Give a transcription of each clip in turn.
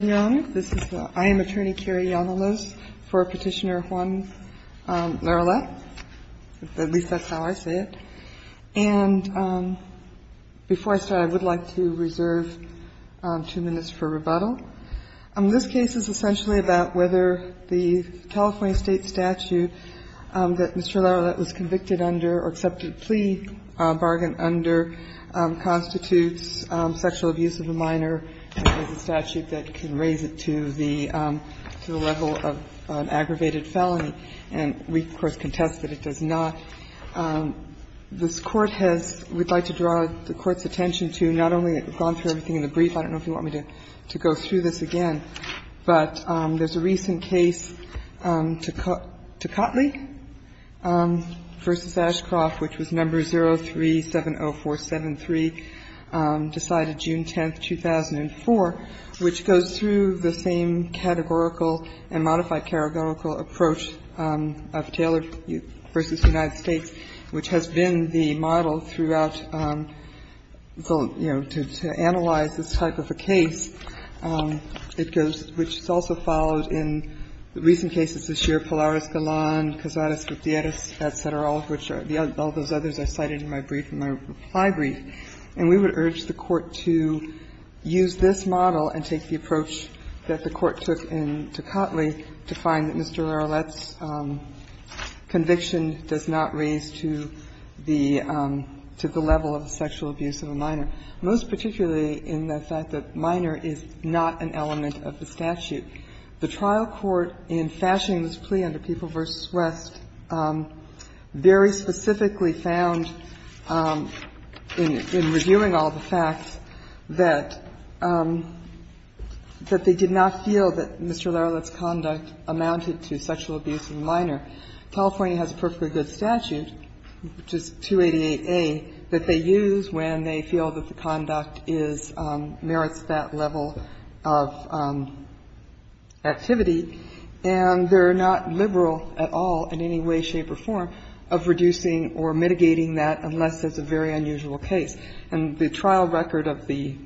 This is the I am attorney carry on the list for Petitioner Juan Larroulet. At least that's how I say it. And before I start, I would like to reserve two minutes for rebuttal. This case is essentially about whether the California state statute that Mr. Larroulet was convicted under or accepted plea bargain under constitutes sexual abuse of a minor and is a statute that can raise it to the level of an aggravated felony. And we, of course, contest that it does not. This Court has we'd like to draw the Court's attention to not only, we've gone through everything in the brief, I don't know if you want me to go through this again, but there's a recent case, Tocatli v. Ashcroft, which was No. 0370473, decided June 10, 2004, which goes through the same categorical and modified categorical approach of Taylor v. United States, which has been the model throughout, you know, to analyze this type of a case. It goes, which is also followed in the recent cases this year, Pilar Escalon, Cazares Gutierrez, et cetera, all of which are, all those others I cited in my brief, in my reply brief. And we would urge the Court to use this model and take the approach that the Court took in Tocatli to find that Mr. Larroulet's conviction does not raise to the level of sexual abuse of a minor. Most particularly in the fact that minor is not an element of the statute. The trial court in fashioning this plea under People v. West very specifically found in reviewing all the facts that they did not feel that Mr. Larroulet's conduct amounted to sexual abuse of a minor. California has a perfectly good statute, which is 288A, that they use when they feel that the conduct is, merits that level of activity. And they're not liberal at all in any way, shape or form of reducing or mitigating that unless it's a very unusual case. And the trial record of the,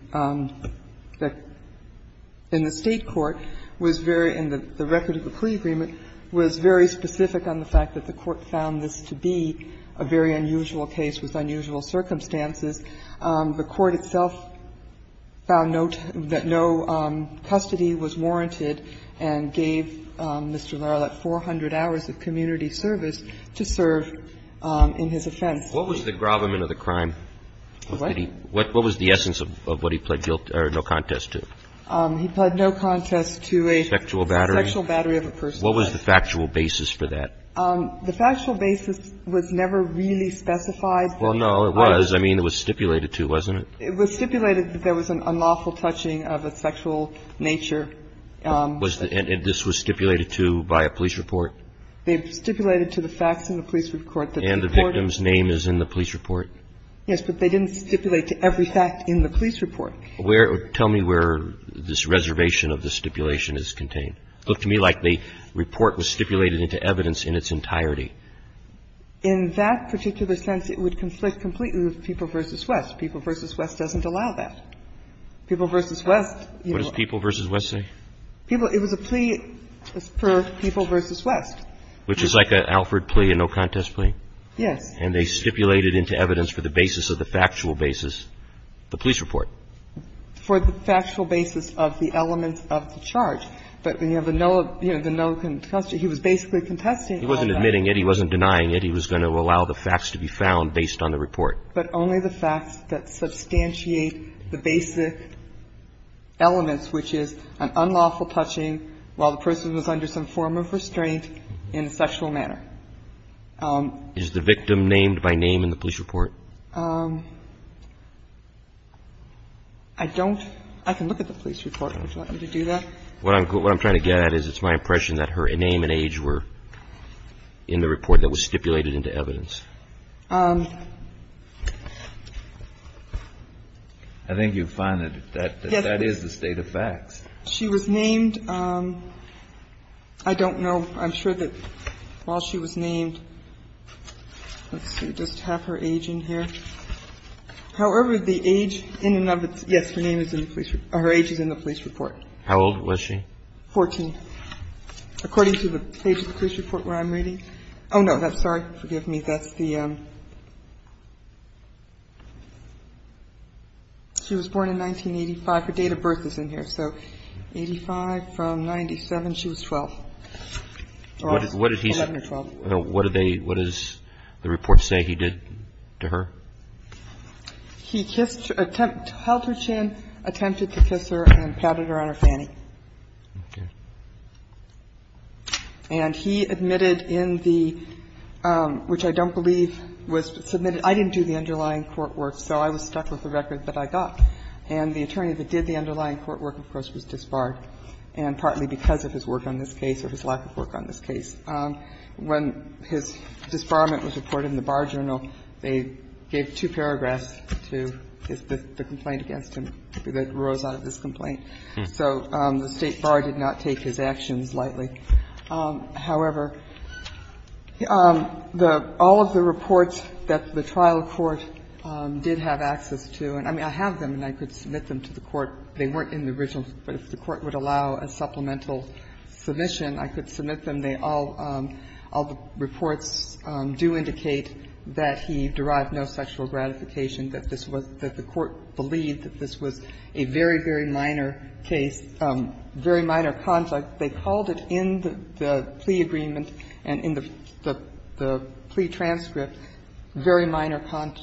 in the State court was very, and the record of the plea agreement was very specific on the fact that the Court found this to be a very unusual case with unusual circumstances. The Court itself found no, that no custody was warranted and gave Mr. Larroulet 400 hours of community service to serve in his offense. What was the grommet of the crime? What? What was the essence of what he pled guilt or no contest to? He pled no contest to a sexual battery. A sexual battery of a person's life. What was the factual basis for that? The factual basis was never really specified. Well, no, it was. I mean, it was stipulated to, wasn't it? It was stipulated that there was an unlawful touching of a sexual nature. Was the, and this was stipulated to by a police report? They've stipulated to the facts in the police report that the Court. And the victim's name is in the police report? Yes, but they didn't stipulate to every fact in the police report. Where, tell me where this reservation of the stipulation is contained. It looked to me like the report was stipulated into evidence in its entirety. In that particular sense, it would conflict completely with People v. West. People v. West doesn't allow that. People v. West. What does People v. West say? People, it was a plea for People v. West. Which is like an Alford plea, a no contest plea. Yes. And they stipulated into evidence for the basis of the factual basis, the police report. For the factual basis of the elements of the charge. But, you know, the no, you know, the no contest, he was basically contesting all that. He wasn't admitting it. He wasn't denying it. He was going to allow the facts to be found based on the report. But only the facts that substantiate the basic elements, which is an unlawful touching while the person was under some form of restraint in a sexual manner. Is the victim named by name in the police report? I don't. I can look at the police report. Would you like me to do that? What I'm trying to get at is it's my impression that her name and age were in the report that was stipulated into evidence. I think you find that that is the state of facts. She was named. I don't know. I'm sure that while she was named, let's see. Does it have her age in here? However, the age in and of itself, yes, her age is in the police report. How old was she? 14. According to the page of the police report where I'm reading. Oh, no. Sorry. Forgive me. That's the she was born in 1985. Her date of birth is in here. So 85 from 97. She was 12. 11 or 12. Okay. So what did they, what does the report say he did to her? He kissed, attempted, held her chin, attempted to kiss her and patted her on her fanny. Okay. And he admitted in the, which I don't believe was submitted. I didn't do the underlying court work, so I was stuck with the record, but I got. And the attorney that did the underlying court work, of course, was disbarred and partly because of his work on this case or his lack of work on this case. When his disbarment was reported in the Bar Journal, they gave two paragraphs to the complaint against him that arose out of this complaint. So the State Bar did not take his actions lightly. However, the, all of the reports that the trial court did have access to, and I mean, I have them and I could submit them to the court. They weren't in the original, but if the court would allow a supplemental submission, I could submit them. They all, all the reports do indicate that he derived no sexual gratification, that this was, that the court believed that this was a very, very minor case, very minor conduct. They called it in the plea agreement and in the plea transcript, very minor conduct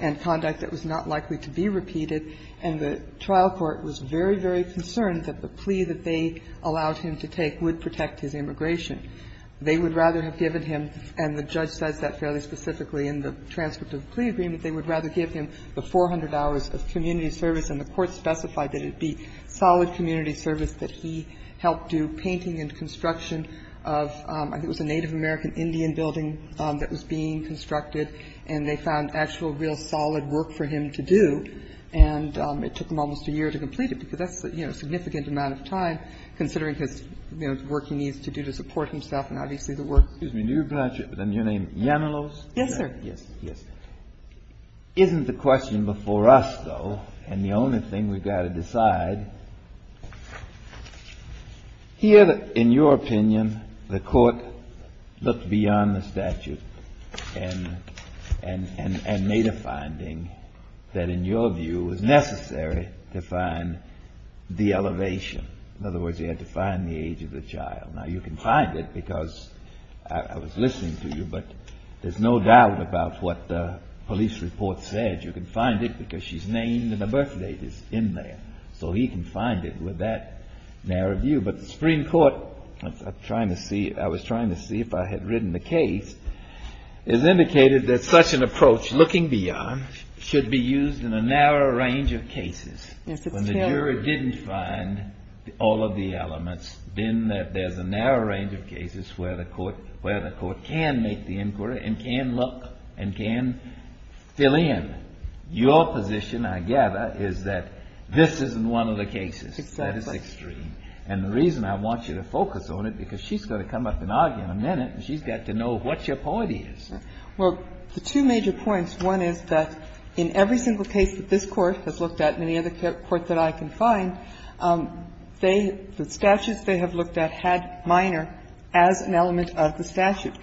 and conduct that was not likely to be repeated. And the trial court was very, very concerned that the plea that they allowed him to take would protect his immigration. They would rather have given him, and the judge says that fairly specifically in the transcript of the plea agreement, they would rather give him the 400 hours of community service. And the court specified that it be solid community service, that he helped do painting and construction of, I think it was a Native American Indian building that was being And it took him almost a year to complete it, because that's, you know, a significant amount of time considering his, you know, the work he needs to do to support himself and obviously the work. Kennedy. Excuse me. Do you pronounce your name Yamilose? Yes, sir. Yes. Yes. Isn't the question before us, though, and the only thing we've got to decide, here, in your opinion, the court looked beyond the statute and made a finding that, in your view, was necessary to find the elevation. In other words, he had to find the age of the child. Now, you can find it because I was listening to you, but there's no doubt about what the police report said. You can find it because she's named and her birth date is in there. So he can find it with that narrow view. But the Supreme Court, I was trying to see if I had written the case, has indicated that such an approach, looking beyond, should be used in a narrow range of cases. Yes, it's true. When the jury didn't find all of the elements, then there's a narrow range of cases where the court can make the inquiry and can look and can fill in. Your position, I gather, is that this isn't one of the cases. Exactly. That is extreme. And the reason I want you to focus on it, because she's going to come up and argue in a minute, and she's got to know what your point is. Well, the two major points, one is that in every single case that this Court has looked at and any other court that I can find, they, the statutes they have looked at had minor as an element of the statute.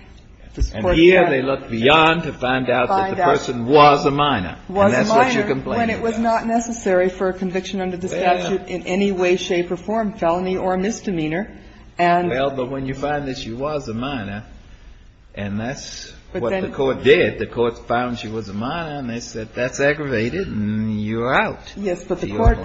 And here they look beyond to find out that the person was a minor. Was a minor. And that's what you're complaining about. When it was not necessary for a conviction under the statute in any way, shape or form, felony or misdemeanor. Well, but when you find that she was a minor, and that's what the court did, the court found she was a minor, and they said that's aggravated and you're out. Yes, but the court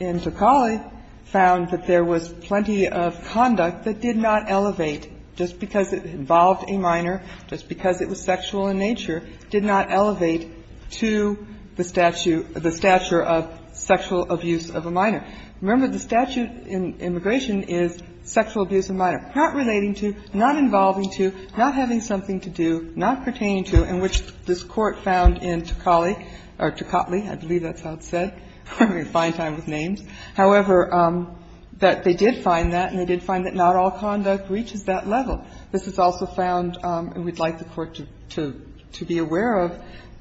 in Tocali found that there was plenty of conduct that did not elevate just because it involved a minor, just because it was sexual in nature, did not elevate to the statute, the stature of sexual abuse of a minor. Remember, the statute in immigration is sexual abuse of minor. Not relating to, not involving to, not having something to do, not pertaining to, in which this Court found in Tocali or Tocatli, I believe that's how it's said, I'm having a fine time with names, however, that they did find that and they did find that not all conduct reaches that level. This is also found, and we'd like the Court to be aware of,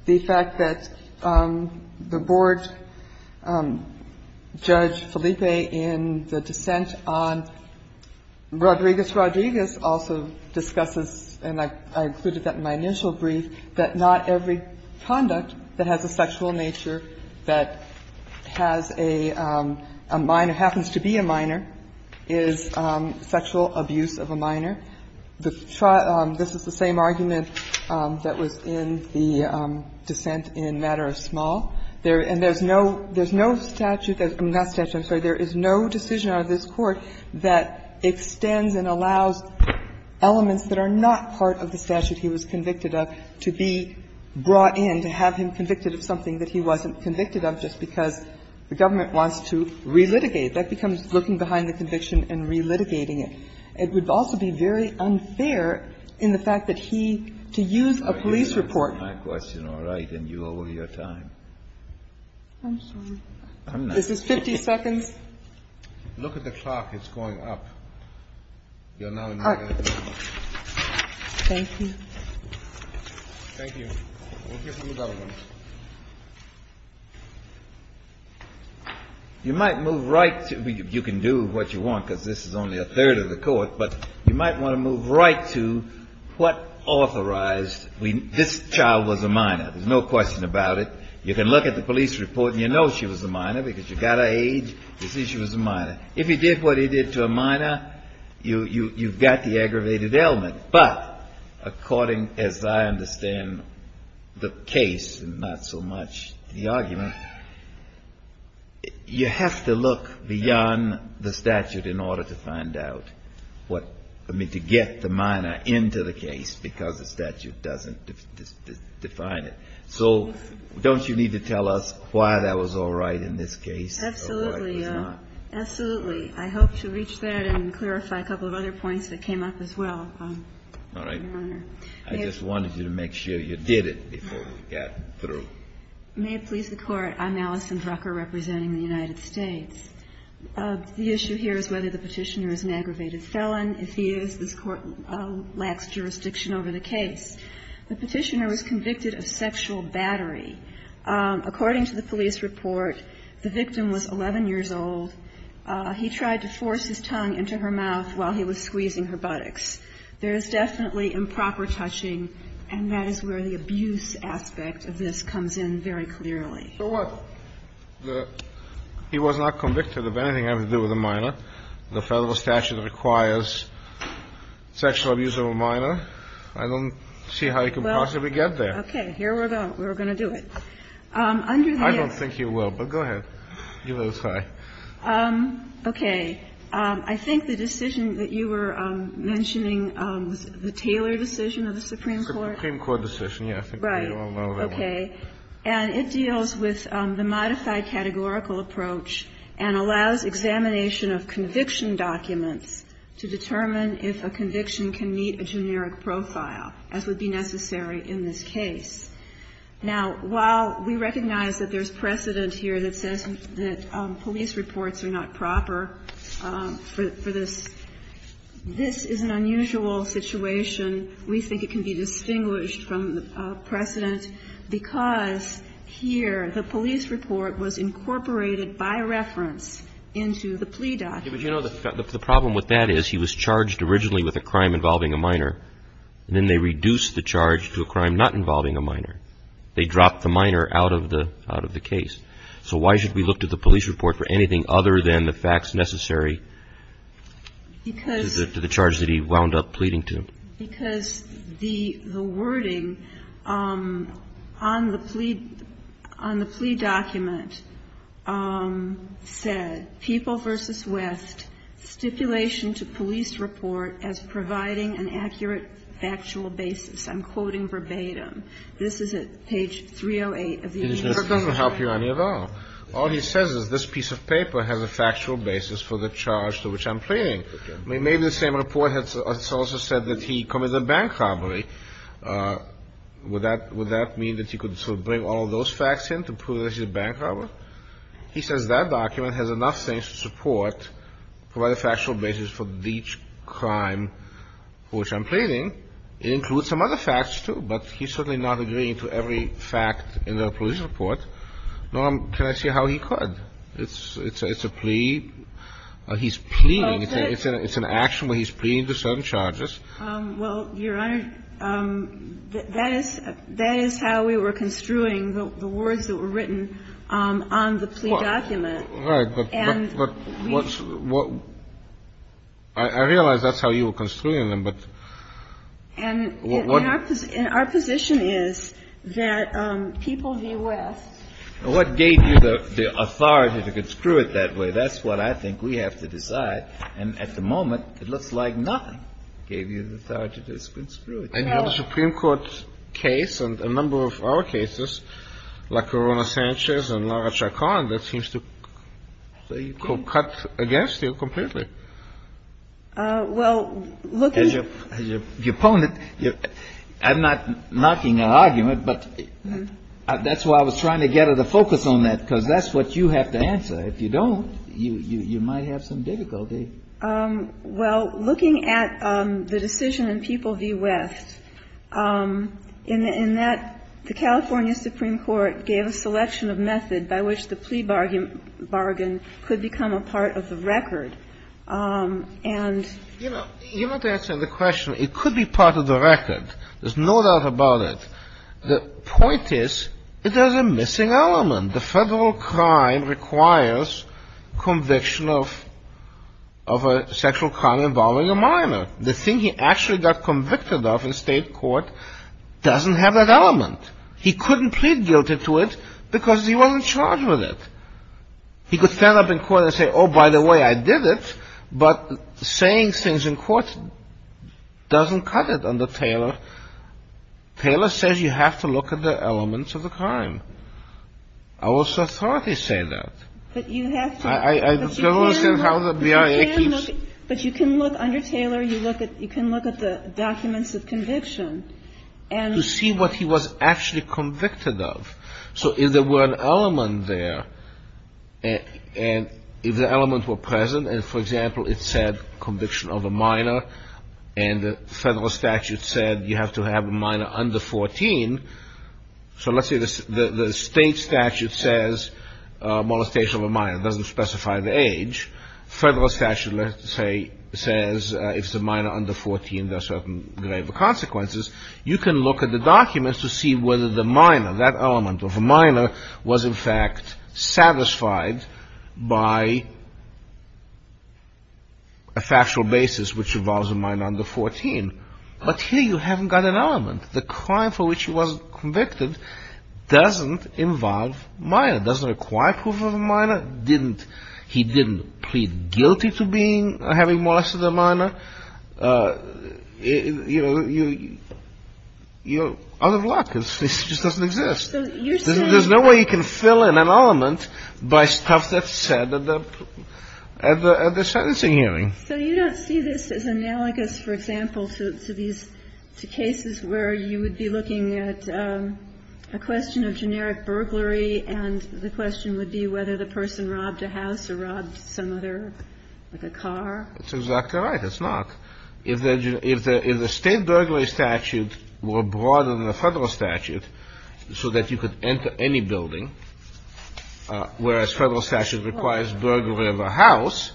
the fact that the board judge Felipe in the dissent on Rodriguez-Rodriguez also discusses, and I included that in my initial brief, that not every conduct that has a sexual nature that has a minor, happens to be a minor, is sexual abuse of a minor. This is the same argument that was in the dissent in Matter of Small. And there's no statute, not statute, I'm sorry, there is no decision out of this Court that extends and allows elements that are not part of the statute he was convicted of to be brought in, to have him convicted of something that he wasn't convicted of just because the government wants to relitigate. That becomes looking behind the conviction and relitigating it. It would also be very unfair in the fact that he, to use a police report. My question, all right, and you owe me your time. I'm sorry. I'm not. Is this 50 seconds? Look at the clock. It's going up. You're now in your 30 minutes. Thank you. Thank you. We'll hear from the government. You might move right to, you can do what you want because this is only a third of the Court, but you might want to move right to what authorized, this child was a minor. There's no question about it. You can look at the police report and you know she was a minor because you got her age. You see she was a minor. If you did what he did to a minor, you've got the aggravated element. But according as I understand the case and not so much the argument, you have to look beyond the statute in order to find out. I mean, to get the minor into the case because the statute doesn't define it. So don't you need to tell us why that was all right in this case or why it was not? Absolutely. Absolutely. I hope to reach that and clarify a couple of other points that came up as well, Your Honor. All right. I just wanted you to make sure you did it before we got through. May it please the Court, I'm Allison Drucker representing the United States. The issue here is whether the Petitioner is an aggravated felon. If he is, this Court lacks jurisdiction over the case. The Petitioner was convicted of sexual battery. According to the police report, the victim was 11 years old. He tried to force his tongue into her mouth while he was squeezing her buttocks. There is definitely improper touching, and that is where the abuse aspect of this comes in very clearly. So what? He was not convicted of anything having to do with a minor. The federal statute requires sexual abuse of a minor. I don't see how you could possibly get there. Okay. Here we go. We're going to do it. Under the act. I don't think you will, but go ahead. You go this way. Okay. I think the decision that you were mentioning, the Taylor decision of the Supreme Court. Supreme Court decision, yes. Right. Okay. And it deals with the modified categorical approach and allows examination of conviction documents to determine if a conviction can meet a generic profile, as would be necessary in this case. Now, while we recognize that there's precedent here that says that police reports are not proper for this, this is an unusual situation. We think it can be distinguished from the precedent because here the police report was incorporated by reference into the plea document. But, you know, the problem with that is he was charged originally with a crime involving a minor, and then they reduced the charge to a crime not involving a minor. They dropped the minor out of the case. So why should we look to the police report for anything other than the facts necessary to the charge that he wound up pleading to? Because the wording on the plea document said, People v. West, Stipulation to Police Report as Providing an Accurate Factual Basis. I'm quoting verbatim. This is at page 308 of the Agenda. That doesn't help you any at all. All he says is this piece of paper has a factual basis for the charge to which I'm pleading. Maybe the same report has also said that he committed a bank robbery. Would that mean that he could sort of bring all of those facts in to prove that he's a bank robber? He says that document has enough things to support, provide a factual basis for each crime for which I'm pleading. It includes some other facts, too, but he's certainly not agreeing to every fact in the police report. Norm, can I see how he could? It's a plea. He's pleading. It's an action where he's pleading to certain charges. Well, Your Honor, that is how we were construing the words that were written on the plea document. Right. But I realize that's how you were construing them. And our position is that People v. West. What gave you the authority to construe it that way? That's what I think we have to decide. And at the moment, it looks like nothing gave you the authority to construe it that way. And you have a Supreme Court case and a number of our cases, like Corona-Sanchez and Lara Chacon, that seems to cut against you completely. Well, look, as your opponent, I'm not knocking an argument, but that's why I was trying to get at a focus on that, because that's what you have to answer. If you don't, you might have some difficulty. Well, looking at the decision in People v. West, in that the California Supreme Court gave a selection of method by which the plea bargain could become a part of the record, and you know. You're not answering the question. It could be part of the record. There's no doubt about it. The point is, there's a missing element. The federal crime requires conviction of a sexual crime involving a minor. The thing he actually got convicted of in state court doesn't have that element. He couldn't plead guilty to it because he wasn't charged with it. He could stand up in court and say, oh, by the way, I did it, but saying things in court doesn't cut it under Taylor. Taylor says you have to look at the elements of the crime. Our authorities say that. But you have to. But you can look under Taylor. You can look at the documents of conviction. To see what he was actually convicted of. So if there were an element there, and if the element were present, and, for example, it said conviction of a minor, and the federal statute said you have to have a minor under 14, so let's say the state statute says molestation of a minor. It doesn't specify the age. Federal statute, let's say, says if it's a minor under 14, there are certain grave consequences. You can look at the documents to see whether the minor, that element of a minor, was in fact satisfied by a factual basis which involves a minor under 14. But here you haven't got an element. The crime for which he was convicted doesn't involve minor, doesn't require proof of a minor. He didn't plead guilty to having molested a minor. You're out of luck. It just doesn't exist. There's no way you can fill in an element by stuff that's said at the sentencing hearing. So you don't see this as analogous, for example, to these cases where you would be looking at a question of generic burglary and the question would be whether the person robbed a house or robbed some other, like a car? That's exactly right. It's not. If the state burglary statute were broader than the federal statute so that you could enter any building, whereas federal statute requires burglary of a house,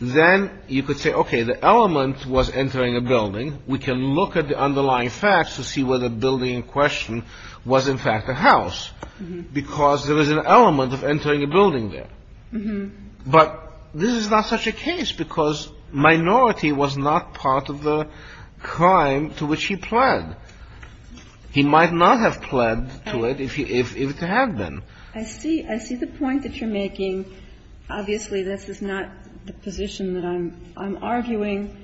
then you could say, okay, the element was entering a building. We can look at the underlying facts to see whether the building in question was in fact a house because there is an element of entering a building there. But this is not such a case because minority was not part of the crime to which he pled. He might not have pled to it if it had been. I see the point that you're making. Obviously, this is not the position that I'm arguing.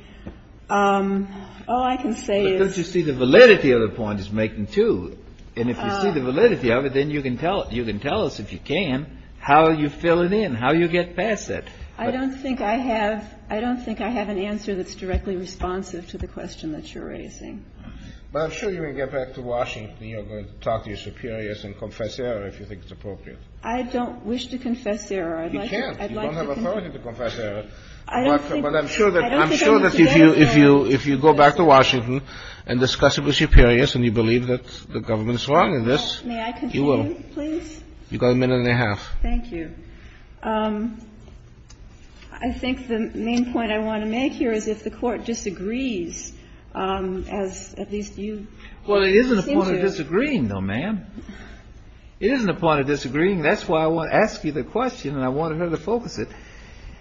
All I can say is the validity of the point is making, too. And if you see the validity of it, then you can tell us, if you can, how you fill it in, how you get past it. I don't think I have an answer that's directly responsive to the question that you're raising. But I'm sure you can get back to Washington. You're going to talk to your superiors and confess error if you think it's appropriate. I don't wish to confess error. You can't. You don't have authority to confess error. But I'm sure that if you go back to Washington and discuss it with your superiors and you believe that the government is wrong in this, you will. May I continue, please? You've got a minute and a half. Thank you. I think the main point I want to make here is if the Court disagrees, as at least you seem to. Well, it isn't a point of disagreeing, though, ma'am. It isn't a point of disagreeing. That's why I want to ask you the question and I wanted her to focus it.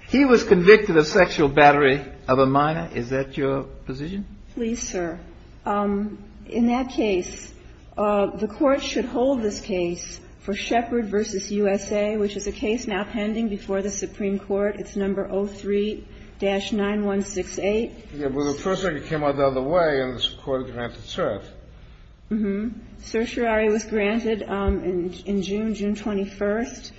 He was convicted of sexual battery of a minor. Is that your position? Please, sir. In that case, the Court should hold this case for Shepard v. USA, which is a case now pending before the Supreme Court. It's number 03-9168. Yes, but the first one came out the other way and the Court granted cert. Mm-hmm. Certiorari was granted in June, June 21st.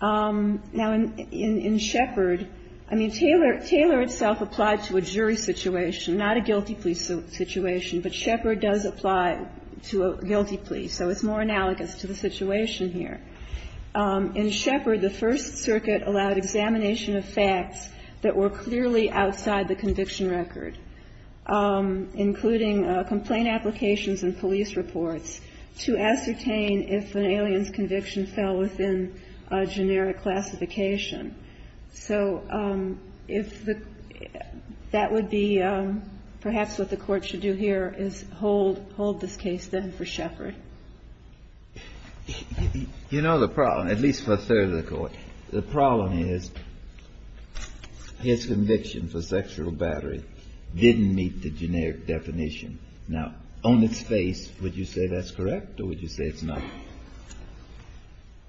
Now, in Shepard, I mean, Taylor itself applied to a jury situation, not a guilty plea situation, but Shepard does apply to a guilty plea, so it's more analogous to the situation here. In Shepard, the First Circuit allowed examination of facts that were clearly outside the conviction record, including complaint applications and police reports to ascertain if an alien's conviction fell within a generic classification. So if the – that would be – perhaps what the Court should do here is hold this case, then, for Shepard. You know the problem, at least for a third of the Court. The problem is his conviction for sexual battery didn't meet the generic definition. Now, on its face, would you say that's correct or would you say it's not?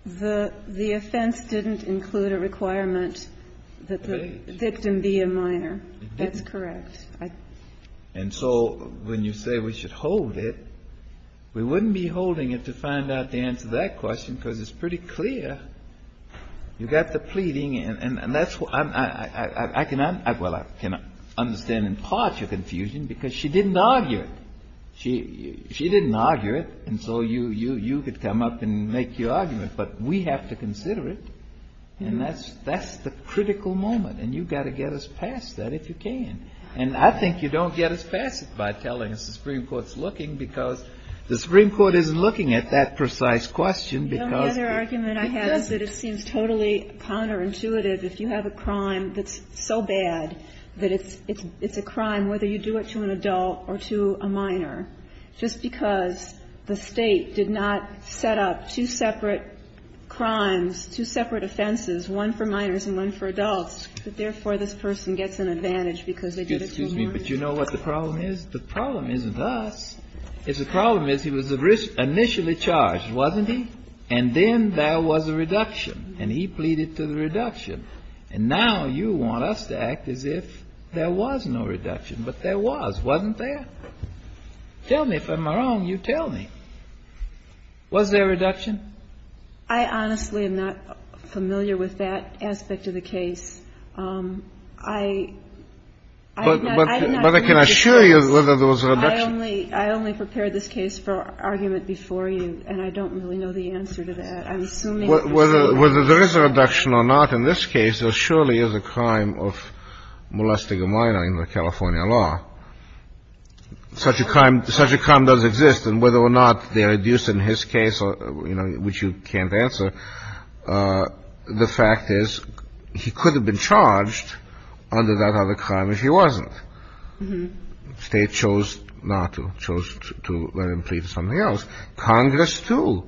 The offense didn't include a requirement that the victim be a minor. That's correct. And so when you say we should hold it, we wouldn't be holding it to find out the answer to that question because it's pretty clear. You've got the pleading and that's what I'm – I cannot – well, I can understand in part your confusion because she didn't argue it. She didn't argue it, and so you could come up and make your argument. But we have to consider it, and that's the critical moment. And you've got to get us past that if you can. And I think you don't get us past it by telling us the Supreme Court's looking because the Supreme Court isn't looking at that precise question because – The only other argument I have is that it seems totally counterintuitive if you have a crime that's so bad that it's a crime, whether you do it to an adult or to a minor, just because the State did not set up two separate crimes, two separate offenses, one for minors and one for adults, that therefore this person gets an advantage because they did it to a minor. Excuse me, but you know what the problem is? The problem isn't us. The problem is he was initially charged, wasn't he? And then there was a reduction. And he pleaded to the reduction. And now you want us to act as if there was no reduction. But there was, wasn't there? Tell me. If I'm wrong, you tell me. Was there a reduction? I honestly am not familiar with that aspect of the case. I'm not – But I can assure you that there was a reduction. I only prepared this case for argument before you, and I don't really know the answer to that. I'm assuming there was a reduction. Whether there is a reduction or not in this case, there surely is a crime of molesting a minor in the California law. Such a crime does exist. And whether or not they are reduced in his case, you know, which you can't answer, the fact is he could have been charged under that other crime if he wasn't. The State chose not to. It chose to let him plead for something else. Congress, too,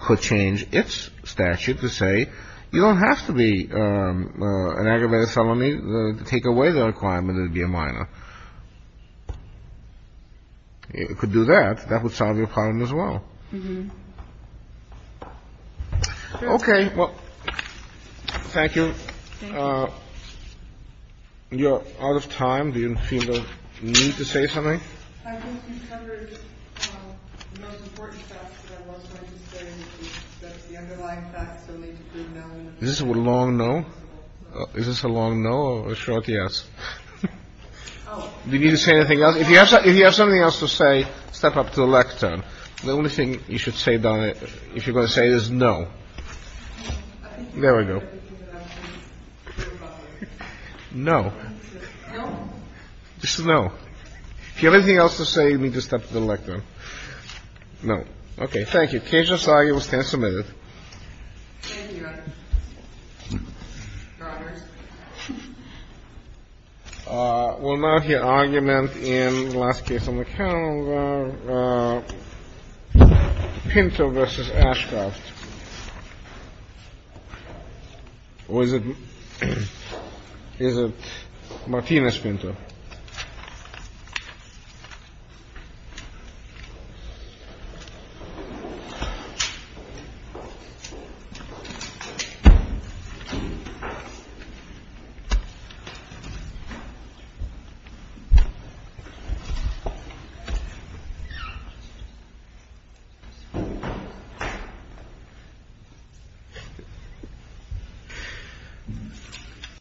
could change its statute to say you don't have to be an aggravated felony to take away the requirement that it be a minor. It could do that. That would solve your problem as well. Okay. Well, thank you. Thank you. You're out of time. Do you feel the need to say something? Is this a long no? Is this a long no or a short yes? Do you need to say anything else? If you have something else to say, step up to the lectern. The only thing you should say, Donna, if you're going to say this, no. There we go. No. Just a no. If you have anything else to say, you need to step to the lectern. No. Okay. Thank you. Case just argued. Stand submitted. Thank you, Your Honor. Roberts. We'll now hear argument in the last case on the calendar, Pinto v. Ashcroft. Or is it Martinez-Pinto? Thank you, Your Honor.